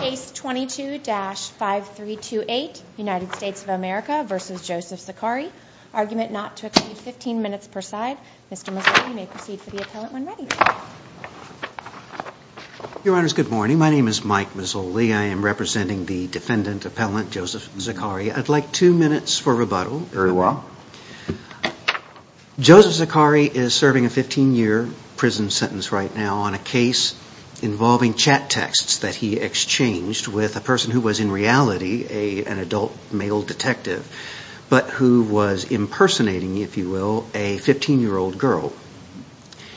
Case 22-5328, United States of America v. Joseph Zakhari. Argument not to exceed 15 minutes per side. Mr. Mazzoli, you may proceed for the appellant when ready. Your Honors, good morning. My name is Mike Mazzoli. I am representing the defendant appellant Joseph Zakhari. I'd like two minutes for rebuttal. Very well. Joseph Zakhari is serving a 15-year prison sentence right now on a case involving chat texts that he exchanged with a person who was in reality an adult male detective, but who was impersonating, if you will, a 15-year-old girl.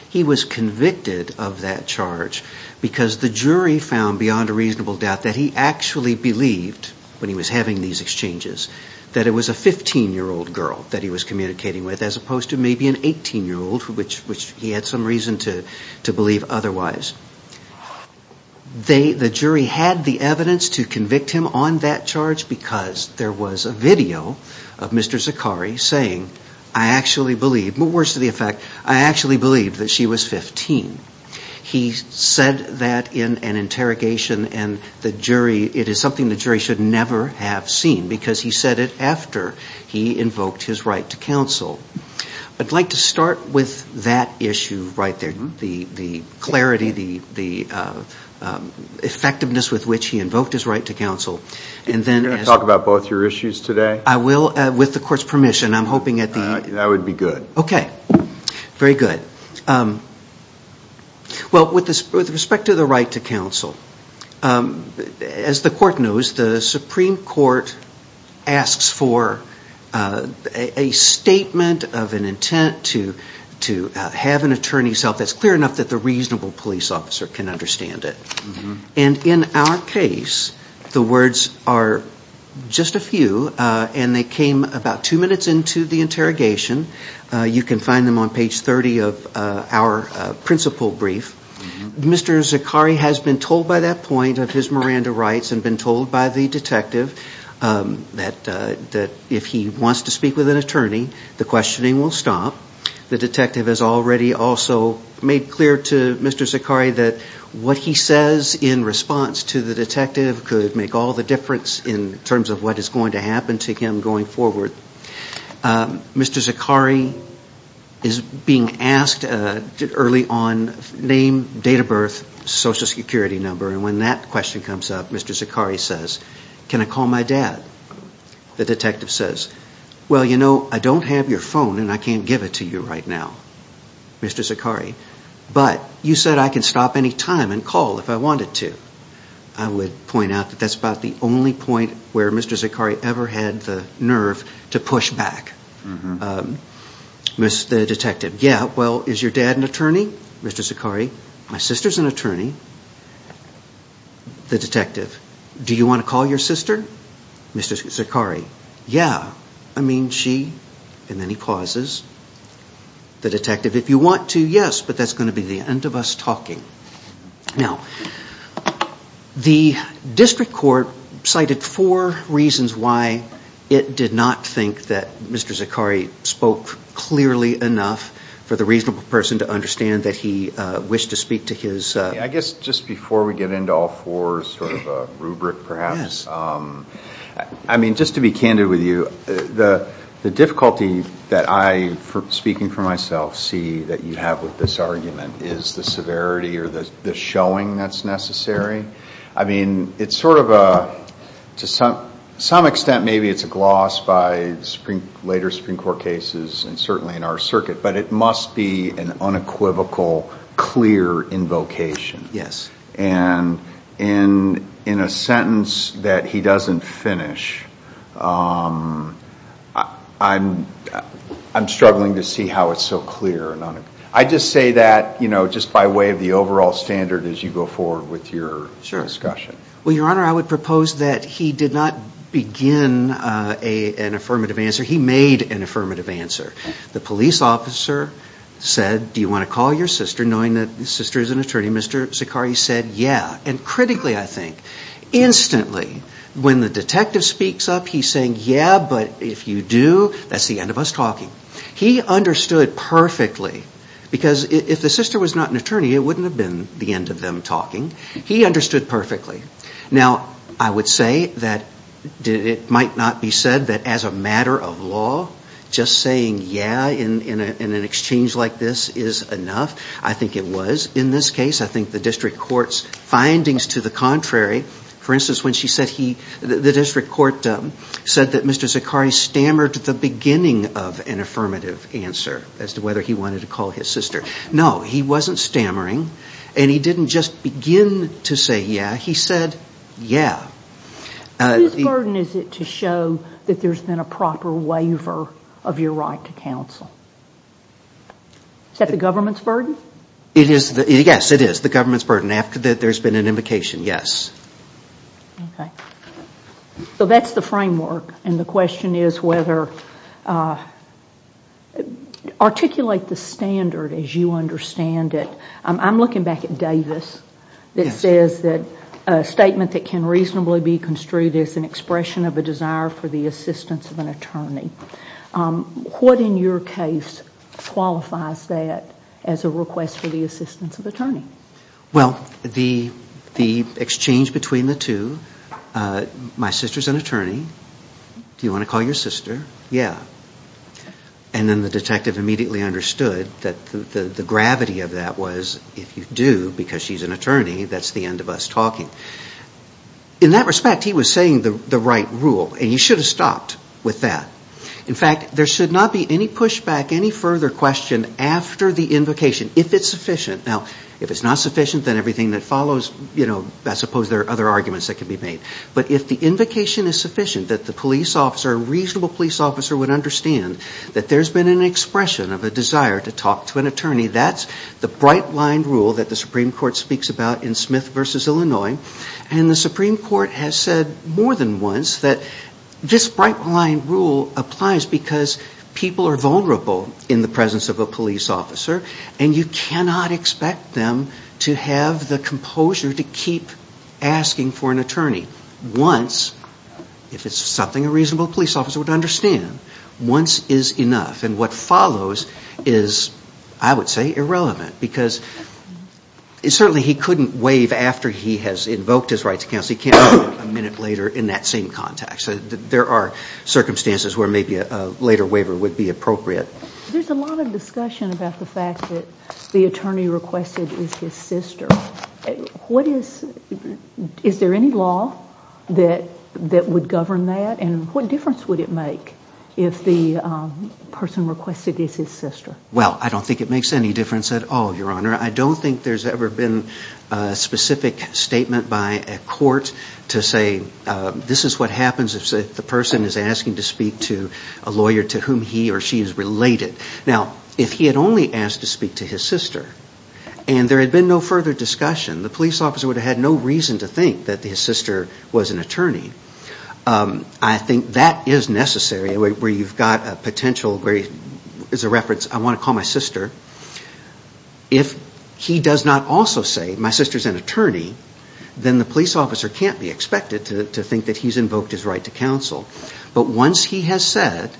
He was convicted of that charge because the jury found, beyond a reasonable doubt, that he actually believed, when he was having these exchanges, that it was a 15-year-old girl that he was communicating with, as opposed to maybe an 18-year-old, which he had some reason to believe otherwise. The jury had the evidence to convict him on that charge because there was a video of Mr. Zakhari saying, I actually believed, but worse to the effect, I actually believed that she was 15. He said that in an interrogation and the jury, it is something the jury should never have seen because he said it after he invoked his right to counsel. I'd like to start with that issue right there, the clarity, the effectiveness with which he invoked his right to counsel, and then as... Can you talk about both your issues today? I will, with the court's permission. I'm hoping that the... That would be good. Okay. Very good. Well, with respect to the right to counsel, as the court knows, the Supreme Court asks for a statement of an intent to have an attorney self that's clear enough that the reasonable police officer can understand it. In our case, the words are just a few, and they came about two minutes into the interrogation. You can find them on page 30 of our principal brief. Mr. Zakhari has been told by that point of his Miranda rights and been told by the detective that if he wants to speak with an attorney, the questioning will stop. The detective has already also made clear to Mr. Zakhari that what he says in response to the detective could make all the difference in terms of what is going to happen to him going forward. Mr. Zakhari is being asked early on name, date of birth, social security number, and when that question comes up, Mr. Zakhari says, can I call my dad? The detective says, well, you know, I don't have your phone and I can't give it to you right now, Mr. Zakhari, but you said I can stop any time and call if I wanted to. I would point out that that's about the only point where Mr. Zakhari ever had the nerve to push back. The detective, yeah, well, is your dad an attorney, Mr. Zakhari? My sister's an attorney. The detective, do you want to call your sister, Mr. Zakhari? Yeah, I mean she, and then he pauses. The detective, if you want to, yes, but that's going to be the end of us talking. Now, the district court cited four reasons why it did not think that Mr. Zakhari spoke clearly enough for the reasonable person to I guess just before we get into all four, sort of a rubric perhaps, I mean just to be candid with you, the difficulty that I, speaking for myself, see that you have with this argument is the severity or the showing that's necessary. I mean, it's sort of a, to some extent maybe it's a gloss by later Supreme Court cases and certainly in our circuit, but it must be an unequivocal, clear invocation. Yes. And in a sentence that he doesn't finish, I'm struggling to see how it's so clear. I just say that, you know, just by way of the overall standard as you go forward with your discussion. Sure. Well, Your Honor, I would propose that he did not begin an affirmative answer. He made an affirmative answer. The police officer said, do you want to call your sister knowing that the sister is an attorney? Mr. Zakhari said, yeah. And critically, I think, instantly when the detective speaks up, he's saying, yeah, but if you do, that's the end of us talking. He understood perfectly because if the sister was not an attorney, it wouldn't have been the end of them talking. He understood perfectly. Now, I would say that it might not be said that as a matter of law, just saying, yeah, in an exchange like this is enough. I think it was. In this case, I think the district court's findings to the contrary, for instance, when she said he, the district court said that Mr. Zakhari stammered at the beginning of an affirmative answer as to whether he wanted to call his sister. No, he wasn't stammering and he didn't just begin to say, yeah. He said, yeah. Whose burden is it to show that there's been a proper waiver of your right to counsel? Is that the government's burden? Yes, it is the government's burden. After there's been an invocation, yes. Okay. So that's the framework and the question is whether, articulate the standard as you say, a statement that can reasonably be construed as an expression of a desire for the assistance of an attorney. What in your case qualifies that as a request for the assistance of attorney? Well, the exchange between the two, my sister's an attorney. Do you want to call your sister? Yeah. And then the detective immediately understood that the gravity of that was if you do, because she's an attorney, that's the end of us talking. In that respect, he was saying the right rule and he should have stopped with that. In fact, there should not be any pushback, any further question after the invocation if it's sufficient. Now, if it's not sufficient, then everything that follows, you know, I suppose there are other arguments that could be made. But if the invocation is sufficient that the police officer, a reasonable police officer would understand that there's been an expression of a desire to talk to an attorney, that's the bright line rule that the Supreme Court speaks about in Smith v. Illinois. And the Supreme Court has said more than once that this bright line rule applies because people are vulnerable in the presence of a police officer and you cannot expect them to have the composure to keep asking for an attorney. Once, if it's something a reasonable police officer would understand, once is enough. And what follows is, I would say, irrelevant. Because certainly he couldn't waive after he has invoked his right to counsel. He can't do it a minute later in that same context. There are circumstances where maybe a later waiver would be appropriate. There's a lot of discussion about the fact that the attorney requested is his sister. What is, is there any law that would govern that? And what difference would it make if the person requested is his sister? Well, I don't think it makes any difference at all, Your Honor. I don't think there's ever been a specific statement by a court to say, this is what happens if the person is asking to speak to a lawyer to whom he or she is related. Now, if he had only asked to speak to his sister and there had been no further discussion, the police officer would have had no reason to think that his sister was an attorney. I think that is necessary where you've got a potential where, as a reference, I want to call my sister. If he does not also say my sister is an attorney, then the police officer can't be expected to think that he's invoked his right to counsel. But once he has said,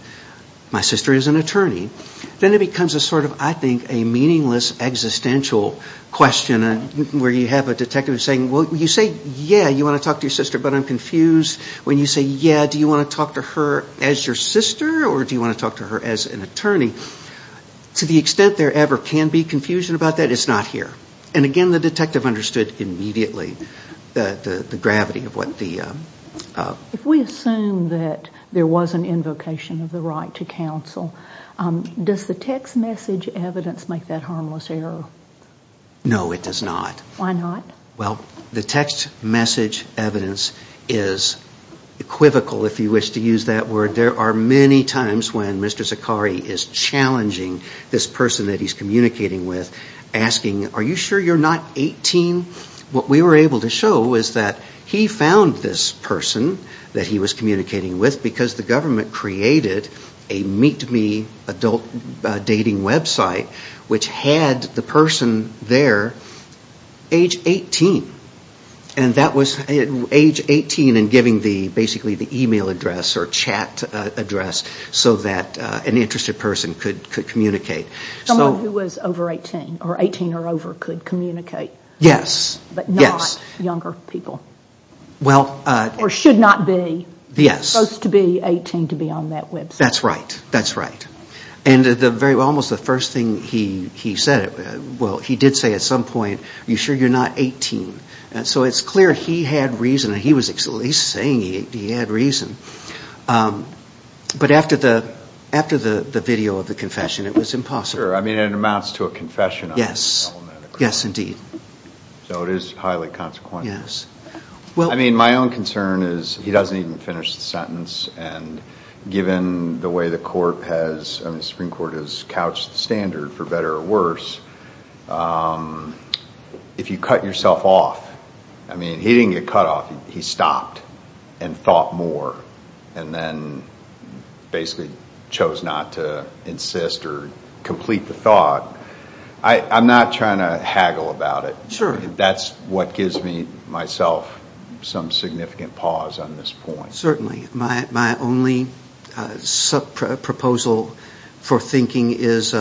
my sister is an attorney, then it becomes a meaningless existential question where you have a detective saying, well, you say, yeah, you want to talk to your sister, but I'm confused when you say, yeah, do you want to talk to her as your sister or do you want to talk to her as an attorney? To the extent there ever can be confusion about that, it's not here. And again, the detective understood immediately the gravity of what the... If we assume that there was an invocation of the right to counsel, does the text message evidence make that harmless error? No, it does not. Why not? Well, the text message evidence is equivocal, if you wish to use that word. There are many times when Mr. Zakari is challenging this person that he's communicating with, asking, are you sure you're not 18? What we were able to show is that he found this person that had the person there age 18. And that was age 18 and giving basically the e-mail address or chat address so that an interested person could communicate. Someone who was over 18 or 18 or over could communicate, but not younger people. Or should not be supposed to be 18 to be on that website. That's right. That's right. And almost the first thing he said, well, he did say at some point, are you sure you're not 18? So it's clear he had reason. He was saying he had reason. But after the video of the confession, it was impossible. Sure. I mean, it amounts to a confession on the element of crime. Yes. Yes, indeed. So it is highly consequential. Yes. I mean, my own concern is he doesn't even finish the sentence. And given the way the court has, I mean, the Supreme Court has couched the standard for better or worse, if you cut yourself off, I mean, he didn't get cut off. He stopped and thought more and then basically chose not to insist or complete the thought. I'm not trying to haggle about it. That's what gives me, myself, some significant pause on this point. Certainly. My only sub-proposal for thinking is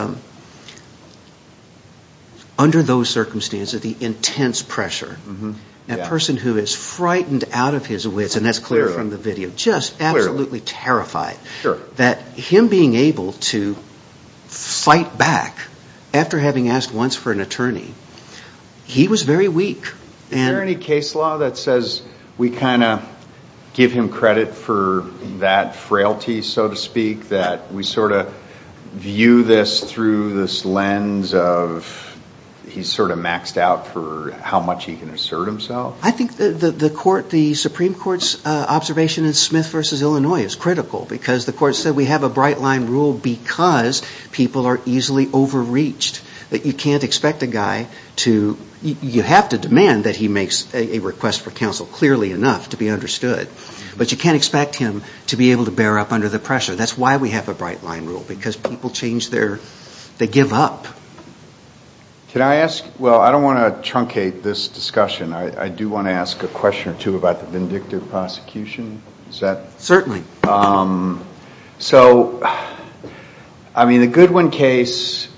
under those circumstances, the intense pressure. A person who is frightened out of his wits, and that's clear from the video, just absolutely terrified that him being able to fight back after having asked once for an attorney, he was very weak. Is there any case law that says we kind of give him credit for that frailty, so to speak, that we sort of view this through this lens of he's sort of maxed out for how much he can assert himself? I think the Supreme Court's observation in Smith v. Illinois is critical because the Supreme Court, you can't expect a guy to, you have to demand that he makes a request for counsel clearly enough to be understood, but you can't expect him to be able to bear up under the pressure. That's why we have a bright line rule, because people change their, they give up. Can I ask, well, I don't want to truncate this discussion. I do want to ask a question or two about the vindictive prosecution. Is that? Certainly. So, I mean, the Goodwin case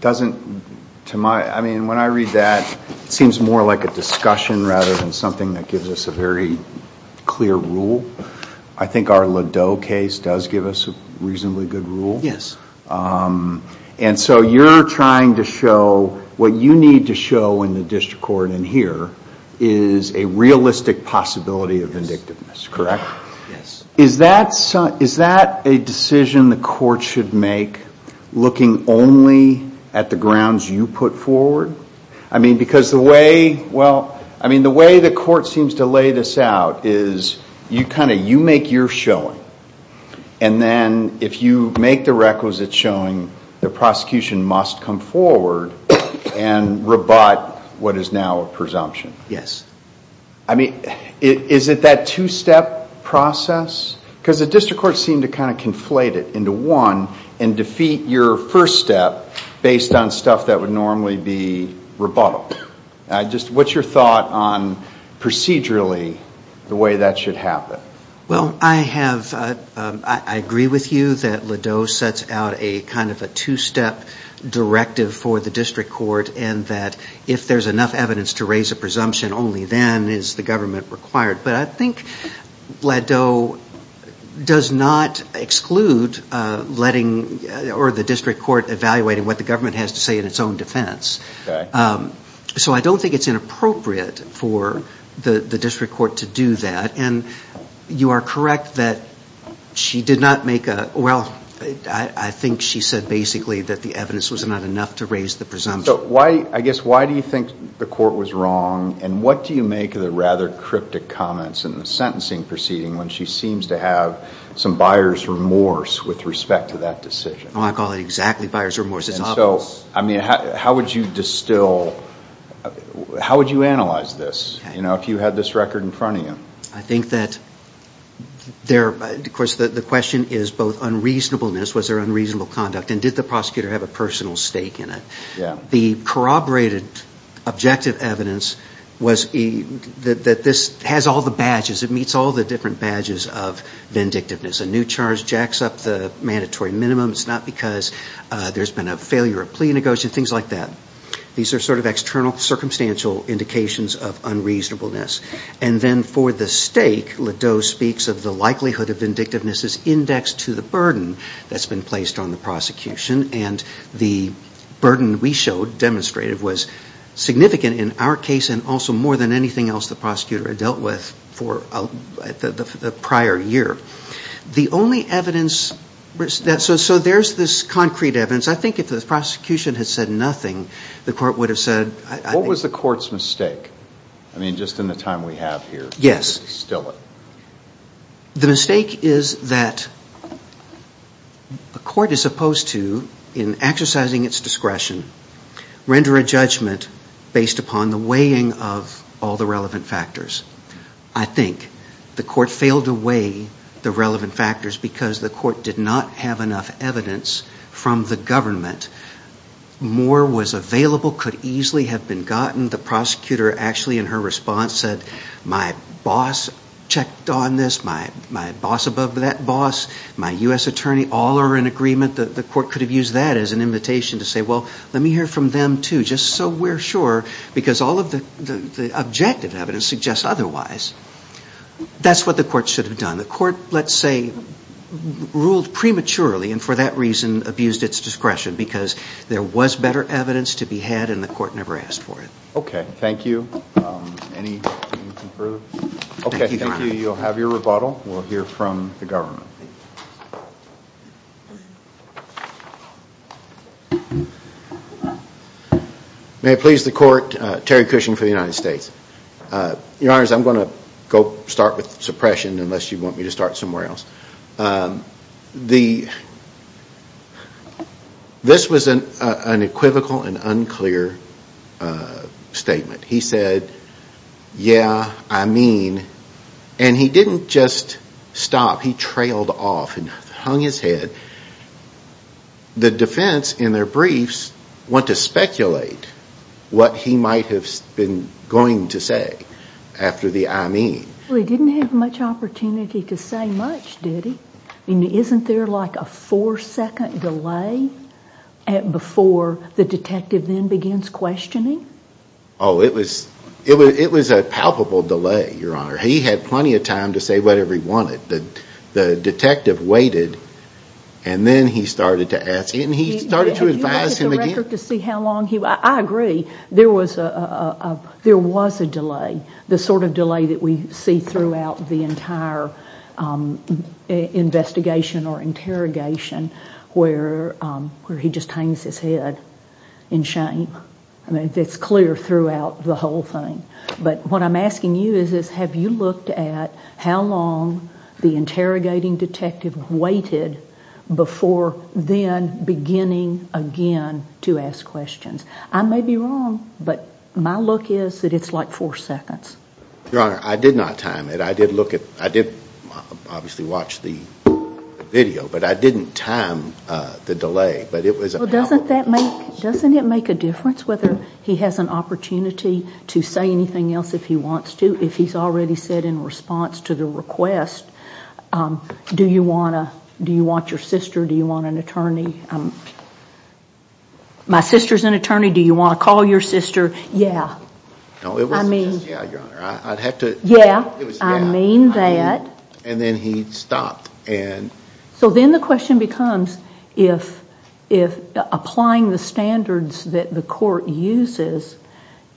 doesn't, to my, I mean, when I read that, it seems more like a discussion rather than something that gives us a very clear rule. I think our Ladeau case does give us a reasonably good rule, and so you're trying to show what you need to show in the district court in here is a realistic possibility of vindictiveness, correct? Yes. Is that a decision the court should make, looking only at the grounds you put forward? I mean, because the way, well, I mean, the way the court seems to lay this out is you kind of, you make your showing, and then if you make the requisite showing, the prosecution must come forward and rebut what is now a presumption. Yes. I mean, is it that two-step process? Because the district court seemed to kind of conflate it into one and defeat your first step based on stuff that would normally be rebuttal. Just, what's your thought on procedurally the way that should happen? Well, I have, I agree with you that Ladeau sets out a kind of a two-step directive for me then is the government required, but I think Ladeau does not exclude letting, or the district court evaluating what the government has to say in its own defense. So I don't think it's inappropriate for the district court to do that, and you are correct that she did not make a, well, I think she said basically that the evidence was not enough to raise the presumption. So why, I guess, why do you think the court was wrong, and what do you make of the rather cryptic comments in the sentencing proceeding when she seems to have some buyer's remorse with respect to that decision? Oh, I call it exactly buyer's remorse. It's obvious. I mean, how would you distill, how would you analyze this, you know, if you had this record in front of you? I think that there, of course, the question is both unreasonableness, was there unreasonable conduct, and did the prosecutor have a personal stake in it? The corroborated objective evidence was that this has all the badges, it meets all the different badges of vindictiveness. A new charge jacks up the mandatory minimum, it's not because there's been a failure of plea negotiation, things like that. These are sort of external, circumstantial indications of unreasonableness. And then for the stake, Ladeau speaks of the likelihood of vindictiveness as indexed to the burden that's been placed on the prosecution, and the burden we showed, demonstrated, was significant in our case, and also more than anything else the prosecutor had dealt with for the prior year. The only evidence, so there's this concrete evidence. I think if the prosecution had said nothing, the court would have said... What was the court's mistake? I mean, just in the time we have here to distill it. The mistake is that a court is supposed to, in exercising its discretion, render a judgment based upon the weighing of all the relevant factors. I think the court failed to weigh the relevant factors because the court did not have enough evidence from the government. More was available, could easily have been gotten. The prosecutor actually in her response said, my boss checked on this, my boss above that boss, my U.S. attorney, all are in agreement. The court could have used that as an invitation to say, well, let me hear from them too, just so we're sure, because all of the objective evidence suggests otherwise. That's what the court should have done. The court, let's say, ruled prematurely and for that reason abused its discretion, because there was better evidence to be had and the court never asked for it. Okay, thank you. Any further? Okay, thank you. You'll have your rebuttal. We'll hear from the government. May it please the court, Terry Cushing for the United States. Your Honor, I'm going to go start with suppression, unless you want me to start somewhere else. This was an equivocal and unclear statement. He said, yeah, I mean, and he didn't just stop, he trailed off and hung his head. The defense in their briefs went to speculate what he might have been going to say after the I mean. Well, he didn't have much opportunity to say much, did he? I mean, isn't there like a four-second delay before the detective then begins questioning? Oh, it was a palpable delay, Your Honor. He had plenty of time to say whatever he wanted. The detective waited and then he started to ask, and he started to advise him again. I agree. There was a delay, the sort of delay that we see throughout the entire investigation or interrogation where he just hangs his head in shame. I mean, it's clear throughout the whole thing, but what I'm asking you is, have you looked at how long the interrogating detective waited before then beginning again to ask questions? I may be wrong, but my look is that it's like four seconds. Your Honor, I did not time it. I did look at, I did obviously watch the video, but I didn't time the delay, but it was a palpable delay. Well, doesn't that make, doesn't it make a difference whether he has an opportunity to say anything else if he wants to, if he's already said in response to the request, do you want to, do you want your sister, do you want an attorney? My sister's an attorney, do you want to call your sister? Yeah. No, it wasn't just yeah, Your Honor. I'd have to... Yeah, I mean that. And then he stopped and... So then the question becomes, if applying the standards that the court uses,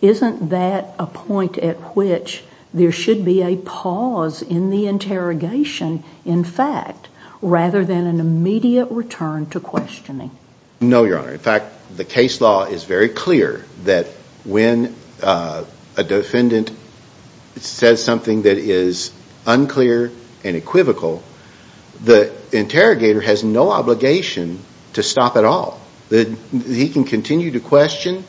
isn't that a point at which there should be a pause in the interrogation, in fact, rather than an immediate return to questioning? No, Your Honor. In fact, the case law is very clear that when a defendant says something that is unclear and equivocal, the interrogator has no obligation to stop at all. He can continue to question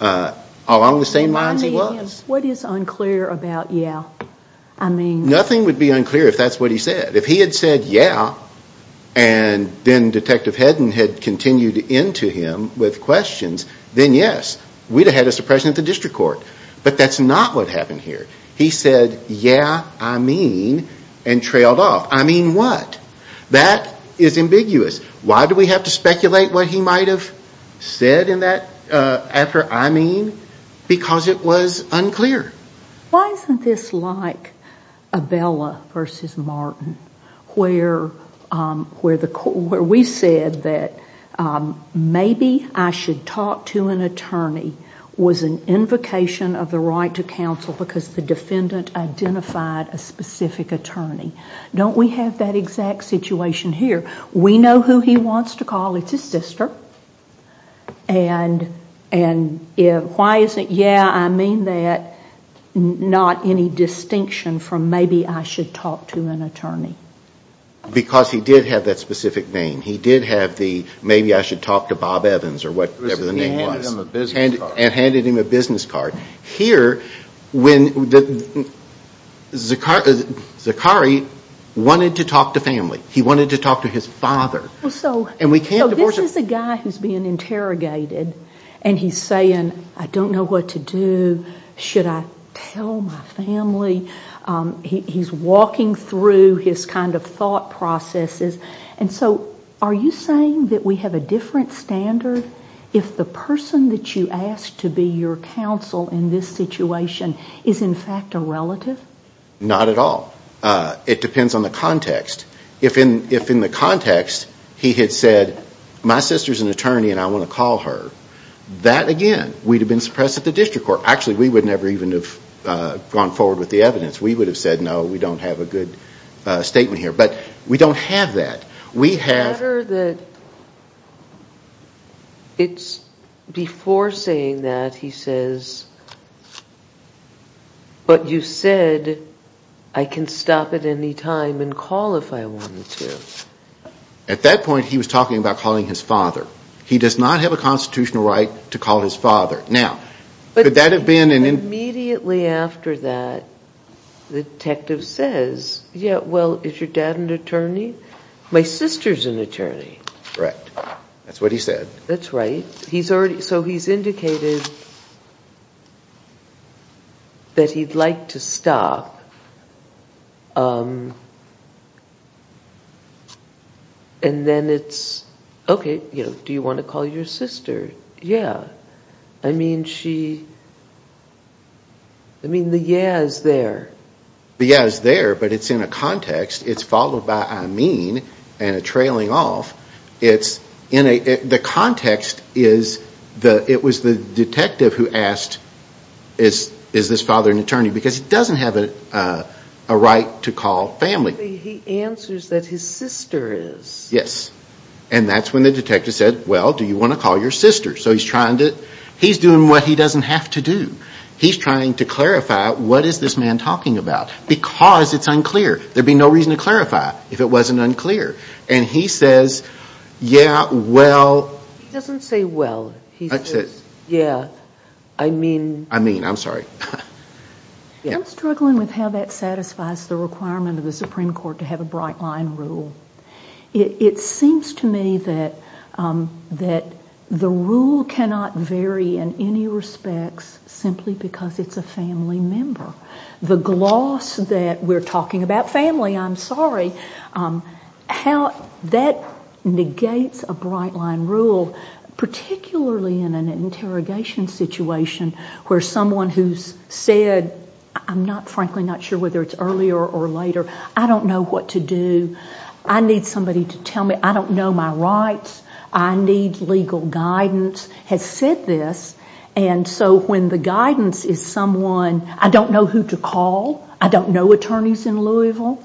along the same lines he was. What is unclear about yeah? I mean... Nothing would be unclear if that's what he said. If he had said yeah, and then Detective Hedden had continued into him with questions, then yes, we'd have had a suppression at the district court. But that's not what happened here. He said yeah, I mean, and trailed off. I mean what? That is ambiguous. Why do we have to speculate what he might have said in that after I mean? Because it was unclear. Why isn't this like Abella versus Martin, where we said that maybe I should talk to an attorney was an invocation of the right to counsel because the defendant identified a specific attorney. Don't we have that exact situation here? We know who he wants to call. It's his sister. And why is it yeah, I mean that, not any distinction from maybe I should talk to an attorney? Because he did have that specific name. He did have the maybe I should talk to Bob Evans or whatever the name was and handed him a business card. Here, when Zakari wanted to talk to his father and we can't divorce him. So this is a guy who's being interrogated and he's saying I don't know what to do. Should I tell my family? He's walking through his kind of thought processes. And so are you saying that we have a different standard if the person that you asked to be your counsel in this situation is in fact a relative? Not at all. It depends on the context. If in the context he had said my sister's an attorney and I want to call her, that again, we'd have been suppressed at the district court. Actually, we would never even have gone forward with the evidence. We would have said no, we don't have a good statement here. But we don't have that. We have... I'm sure that it's before saying that he says, but you said I can stop at any time and call if I wanted to. At that point, he was talking about calling his father. He does not have a constitutional right to call his father. Now, could that have been... Immediately after that, the detective says, yeah, well, is your dad an attorney? My sister's an attorney. Correct. That's what he said. That's right. So he's indicated that he'd like to stop and then it's, okay, do you want to call your sister? Yeah. I mean, she... I mean, the yeah is there. The yeah is there, but it's in a context. It's followed by I mean and a trailing off. It's in a... The context is that it was the detective who asked, is this father an attorney? Because he doesn't have a right to call family. He answers that his sister is. Yes. And that's when the detective said, well, do you want to call your sister? So he's trying to... He's doing what he doesn't have to do. He's trying to clarify what is this man talking about? Because it's unclear. There'd be no reason to clarify if it wasn't unclear. And he says, yeah, well... He doesn't say well. He says, yeah, I mean... I mean, I'm sorry. I'm struggling with how that satisfies the requirement of the Supreme Court to have a bright line rule. It seems to me that the rule cannot vary in any respects simply because it's a family member. The gloss that we're talking about family, I'm sorry, how that negates a bright line rule, particularly in an interrogation situation where someone who's said, I'm not frankly not sure whether it's earlier or later, I don't know what to do. I need somebody to tell me. I don't know my rights. I need legal guidance, has said this. And so when the guidance is someone, I don't know who to call. I don't know attorneys in Louisville.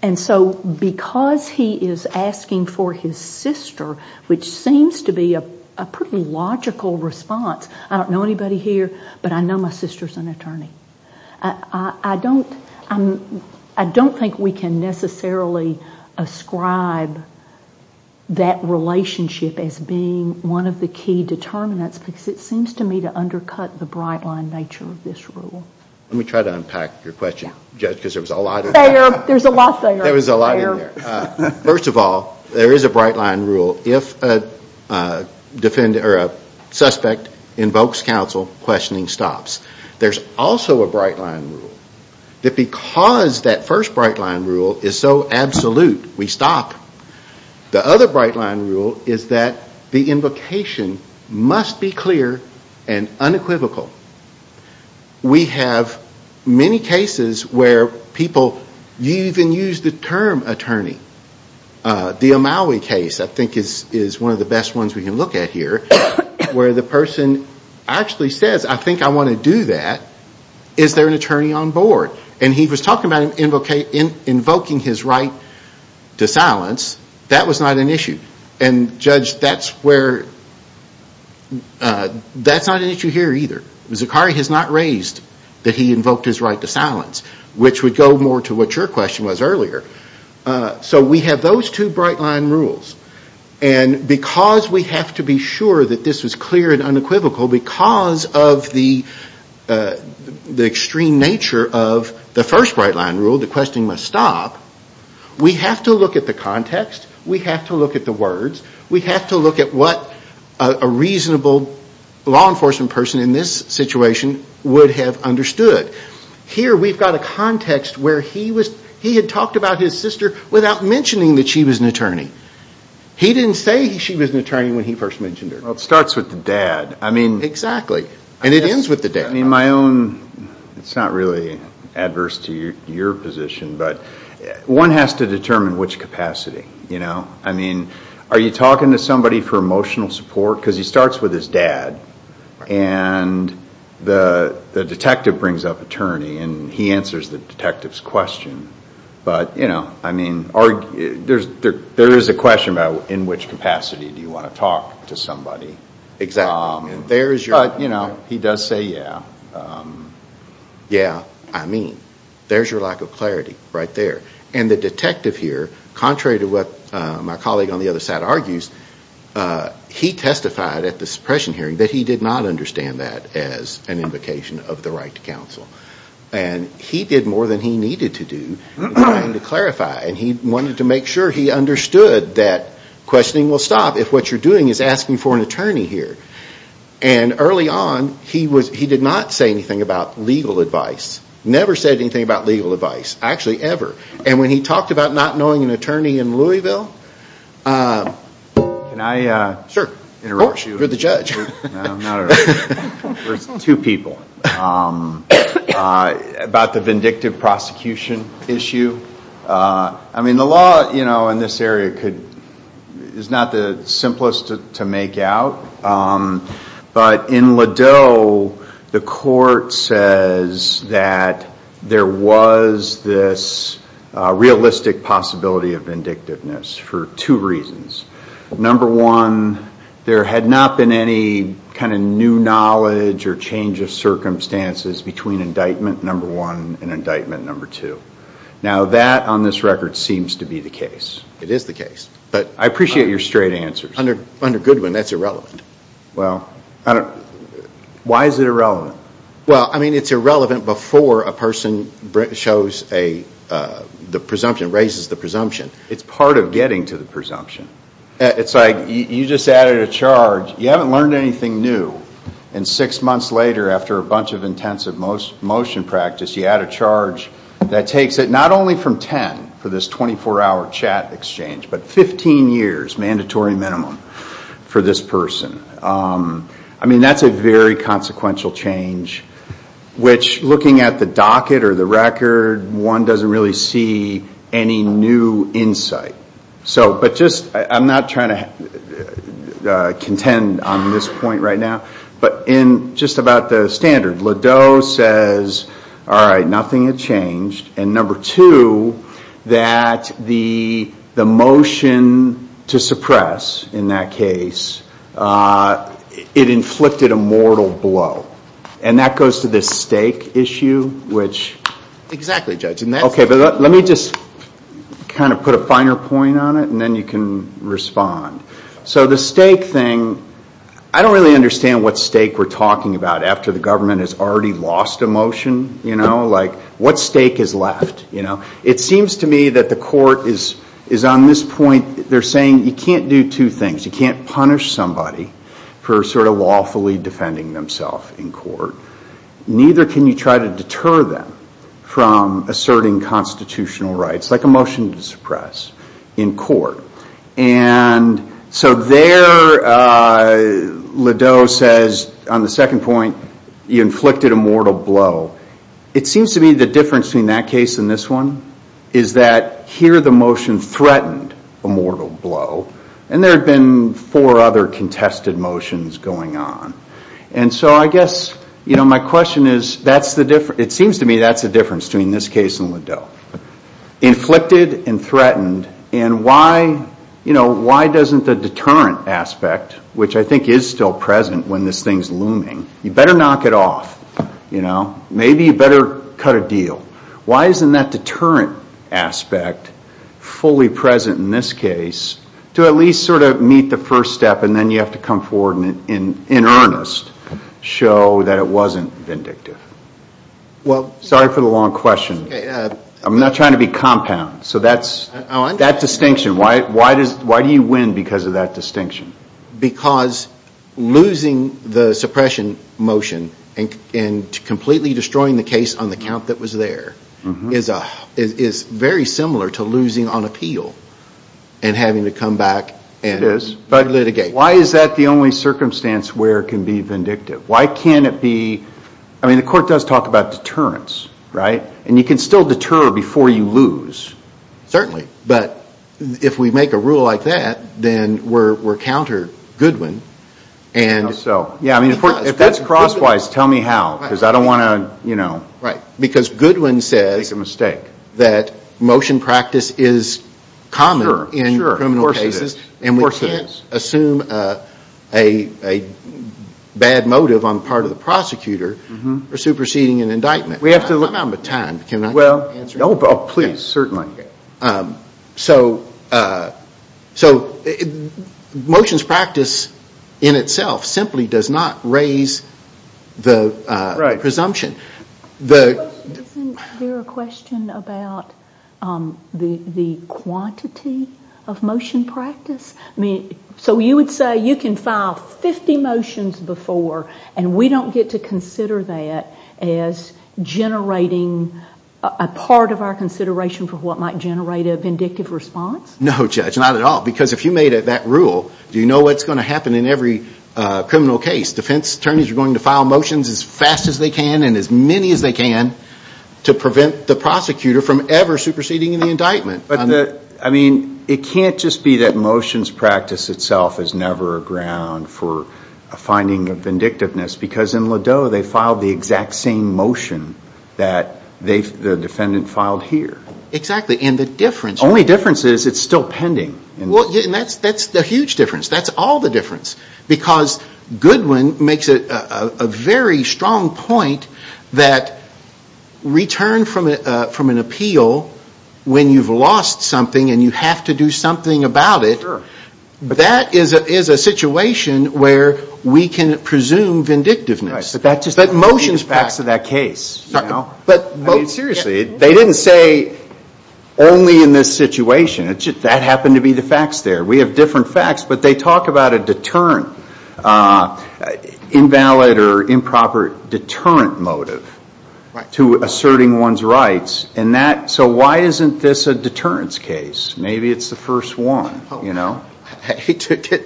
And so because he is asking for his sister, which seems to be a pretty logical response, I don't know anybody here, but I know my sister's an attorney. I don't think we can necessarily ascribe that relationship as being one of the key determinants because it seems to me to undercut the bright line nature of this rule. Let me try to unpack your question, Judge, because there was a lot in there. There's a lot there. There was a lot in there. First of all, there is a bright line rule. If a suspect invokes counsel, questioning stops. There's also a bright line rule that because that first bright line rule is so absolute, we stop. The other bright line rule is that the invocation must be clear and unequivocal. We have many cases where people even use the term attorney. The Omawi case I think is one of the best ones we can look at here, where the person actually says, I think I want to do that. Is there an attorney on board? And he was talking about invoking his right to silence. That's not an issue here either. Zakari has not raised that he invoked his right to silence, which would go more to what your question was earlier. So we have those two bright line rules, and because we have to be sure that this was clear and unequivocal, because of the extreme nature of the first bright line rule, the questioning must stop, we have to look at the context, we have to look at what a reasonable law enforcement person in this situation would have understood. Here we've got a context where he had talked about his sister without mentioning that she was an attorney. He didn't say she was an attorney when he first mentioned her. Well, it starts with the dad. Exactly. And it ends with the dad. My own, it's not really adverse to your position, but one has to determine which capacity. Are you talking to somebody for emotional support? Because he starts with his dad, and the detective brings up attorney, and he answers the detective's question. But, you know, there is a question about in which capacity do you want to talk to somebody. Exactly. There's your... But, you know, he does say yeah. Yeah, I mean, there's your lack of clarity right there. And the detective here, contrary to what my colleague on the other side argues, he testified at the suppression hearing that he did not understand that as an invocation of the right to counsel. And he did more than he needed to do in trying to clarify, and he wanted to make sure he understood that questioning will stop if what you're doing is asking for an attorney here. And early on, he did not say anything about legal advice. Never said anything about legal advice in Louisville. Can I interrupt you? Sure. Of course, you're the judge. No, not at all. There's two people. About the vindictive prosecution issue, I mean, the law in this area is not the simplest to make out. But in Ladeau, the court says that there was this realistic possibility of vindictiveness for two reasons. Number one, there had not been any kind of new knowledge or change of circumstances between indictment number one and indictment number two. Now that, on this record, seems to be the case. It is the case, but... I appreciate your straight answers. Under Goodwin, that's irrelevant. Why is it irrelevant? Well, I mean, it's irrelevant before a person shows a presumption, raises the presumption. It's part of getting to the presumption. It's like you just added a charge. You haven't learned anything new. And six months later, after a bunch of intensive motion practice, you add a charge that takes it not only from 10 for this 24-hour chat exchange, but 15 years, mandatory minimum, for this person. I mean, that's a very consequential change, which looking at the docket or the record, one doesn't really see any new insight. I'm not trying to contend on this point right now, but just about the standard, Ladeau says, all right, nothing had changed. And number two, that the motion to suppress in that case, it inflicted a mortal blow. And that goes to this stake issue, which... Exactly, Judge. Okay, but let me just kind of put a finer point on it, and then you can respond. So the stake thing, I don't really understand what stake we're talking about after the government has already lost a motion. What stake is left? It seems to me that the court is on this point, they're saying you can't do two things. You can't punish somebody for sort of lawfully defending themselves in court. Neither can you try to deter them from asserting constitutional rights, like a motion to suppress in court. And so there, Ladeau says, on the inflicted a mortal blow, it seems to me the difference between that case and this one is that here the motion threatened a mortal blow, and there have been four other contested motions going on. And so I guess my question is, it seems to me that's the difference between this case and Ladeau. Inflicted and threatened, and why doesn't the deterrent aspect, which I think is still present when this thing's looming, you better knock it off, you know? Maybe you better cut a deal. Why isn't that deterrent aspect fully present in this case to at least sort of meet the first step, and then you have to come forward in earnest, show that it wasn't vindictive? Sorry for the long question. I'm not trying to be compound, so that distinction, why do you win because of that distinction? Because losing the suppression motion and completely destroying the case on the count that was there is very similar to losing on appeal and having to come back and litigate. It is, but why is that the only circumstance where it can be vindictive? Why can't it be, I mean the court does talk about deterrence, right? And you can still deter before you counter Goodwin. If that's crosswise, tell me how, because I don't want to make a mistake. Because Goodwin says that motion practice is common in criminal cases, and we can't assume a bad motive on the part of the prosecutor for superseding an indictment. We have to limit our time, can I answer that? Motions practice in itself simply does not raise the presumption. Isn't there a question about the quantity of motion practice? So you would say you can file 50 motions before and we don't get to consider that as generating a part of our consideration for what might generate a vindictive response? No Judge, not at all, because if you made that rule, do you know what's going to happen in every criminal case? Defense attorneys are going to file motions as fast as they can and as many as they can to prevent the prosecutor from ever superseding an indictment. But, I mean, it can't just be that motions practice itself is never a ground for a finding of vindictiveness, because in Ladeau, they filed the exact same motion that the defendant filed here. Exactly, and the difference... The only difference is it's still pending. That's the huge difference. That's all the difference, because Goodwin makes a very strong point that return from an appeal when you've lost something and you have to do something about it, that is a situation where we can presume vindictiveness. Motions practice of that case. I mean, seriously, they didn't say only in this situation. That happened to be the facts there. We have different facts, but they talk about a deterrent, invalid or improper deterrent motive to asserting one's rights, and that, so why isn't this a deterrence case? Maybe it's the first one, you know?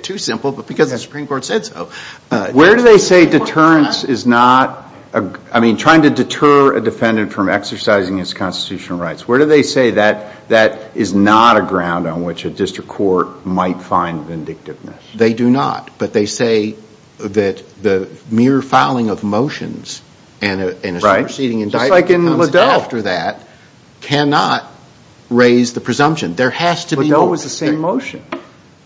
Too simple, but because the Supreme Court said so. Where do they say deterrence is not, I mean, trying to deter a defendant from exercising his constitutional rights, where do they say that that is not a ground on which a district court might find vindictiveness? They do not, but they say that the mere filing of motions and a superseding indictment comes after that, cannot raise the presumption. There has to be... Liddell was the same motion.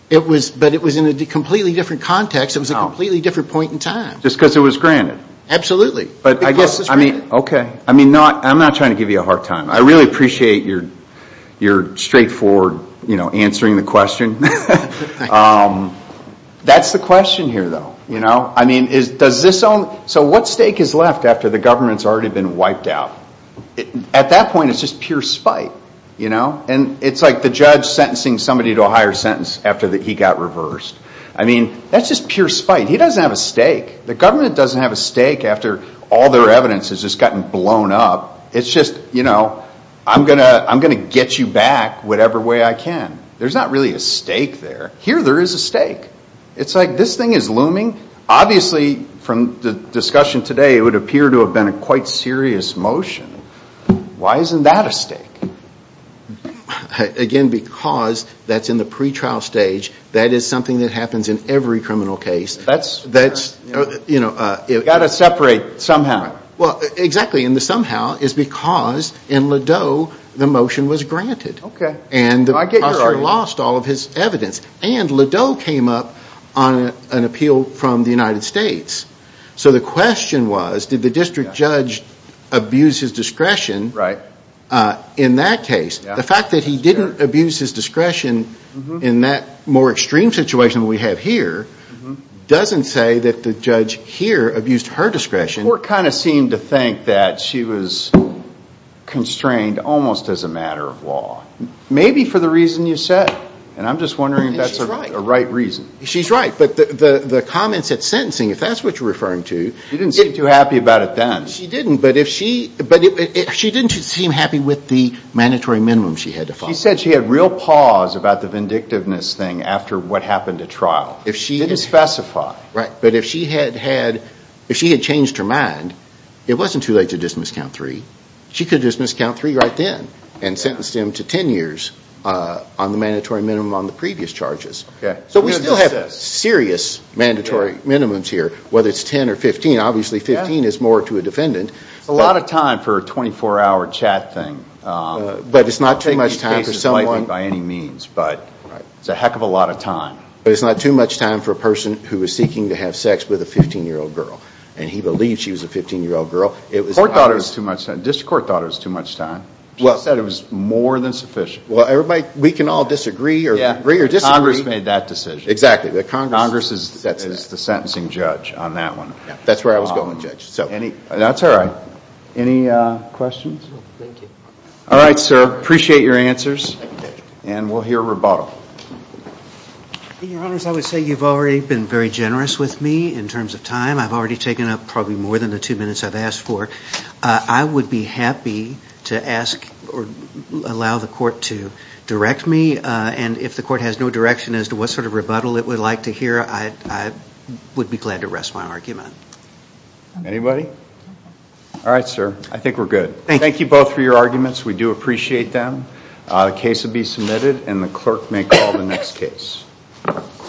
It was, but it was in a completely different context. It was a completely different point in time. Just because it was granted. Absolutely. But I guess, I mean, okay, I mean, I'm not trying to give you a hard time. I really appreciate your straightforward, you know, answering the question. That's the question here, though, you know? I mean, does this own, so what stake is left after the government's already been wiped out? At that point, it's just pure spite, you know? And it's like the judge sentencing somebody to a higher sentence after he got reversed. I mean, that's just pure spite. He doesn't have a stake. The government doesn't have a stake after all their evidence has just gotten blown up. It's just, you know, I'm going to get you back whatever way I can. There's not really a stake there. Here, there is a stake. It's like this thing is looming. Obviously, from the discussion today, it would appear to have been a quite serious motion. Why isn't that a stake? Again, because that's in the pretrial stage. That is something that happens in every criminal case. That's, you know, you've got to separate somehow. Well, exactly. And the somehow is because in Ladeau, the motion was granted. Okay. And the prosecutor lost all of his evidence. And Ladeau came up on an appeal from the United States. So the question was, did the district judge abuse his discretion in that case? The fact that he didn't abuse his discretion in that more extreme situation we have here doesn't say that the judge here abused her discretion. Court kind of seemed to think that she was constrained almost as a matter of law. Maybe for the reason you said. And I'm just wondering if that's a right reason. She's right. But the comments at sentencing, if that's what you're referring to. She didn't seem too happy about it then. She didn't. But if she didn't seem happy with the mandatory minimum she had to follow. She said she had real pause about the vindictiveness thing after what happened at trial. She didn't specify. Right. But if she had changed her mind, it wasn't too late to just miscount three. She could have just miscounted three right then. And sentenced him to 10 years on the mandatory minimum on the previous charges. Okay. So we still have serious mandatory minimums here. Whether it's 10 or 15, obviously 15 is more to a defendant. A lot of time for a 24 hour chat thing. But it's not too much time for someone. By any means, but it's a heck of a lot of time. But it's not too much time for a person who is seeking to have sex with a 15 year old girl. And he believes she was a 15 year old girl. It was. Court thought it was too much time. District court thought it was too much time. She said it was more than sufficient. Well, everybody, we can all disagree or agree or disagree. Congress made that decision. Exactly. The Congress. Congress is the sentencing judge on that one. That's where I was going, Judge. Any. That's all right. Any questions? Thank you. All right, sir. Appreciate your answers. And we'll hear rebuttal. Your honors, I would say you've already been very generous with me in terms of time. I've already taken up probably more than the two minutes I've asked for. I would be happy to ask or allow the court to direct me. And if the court has no direction as to what sort of rebuttal it would like to hear, I would be glad to rest my argument. Anybody? All right, sir. I think we're good. We do appreciate them. The case will be submitted. And the clerk may call the next case.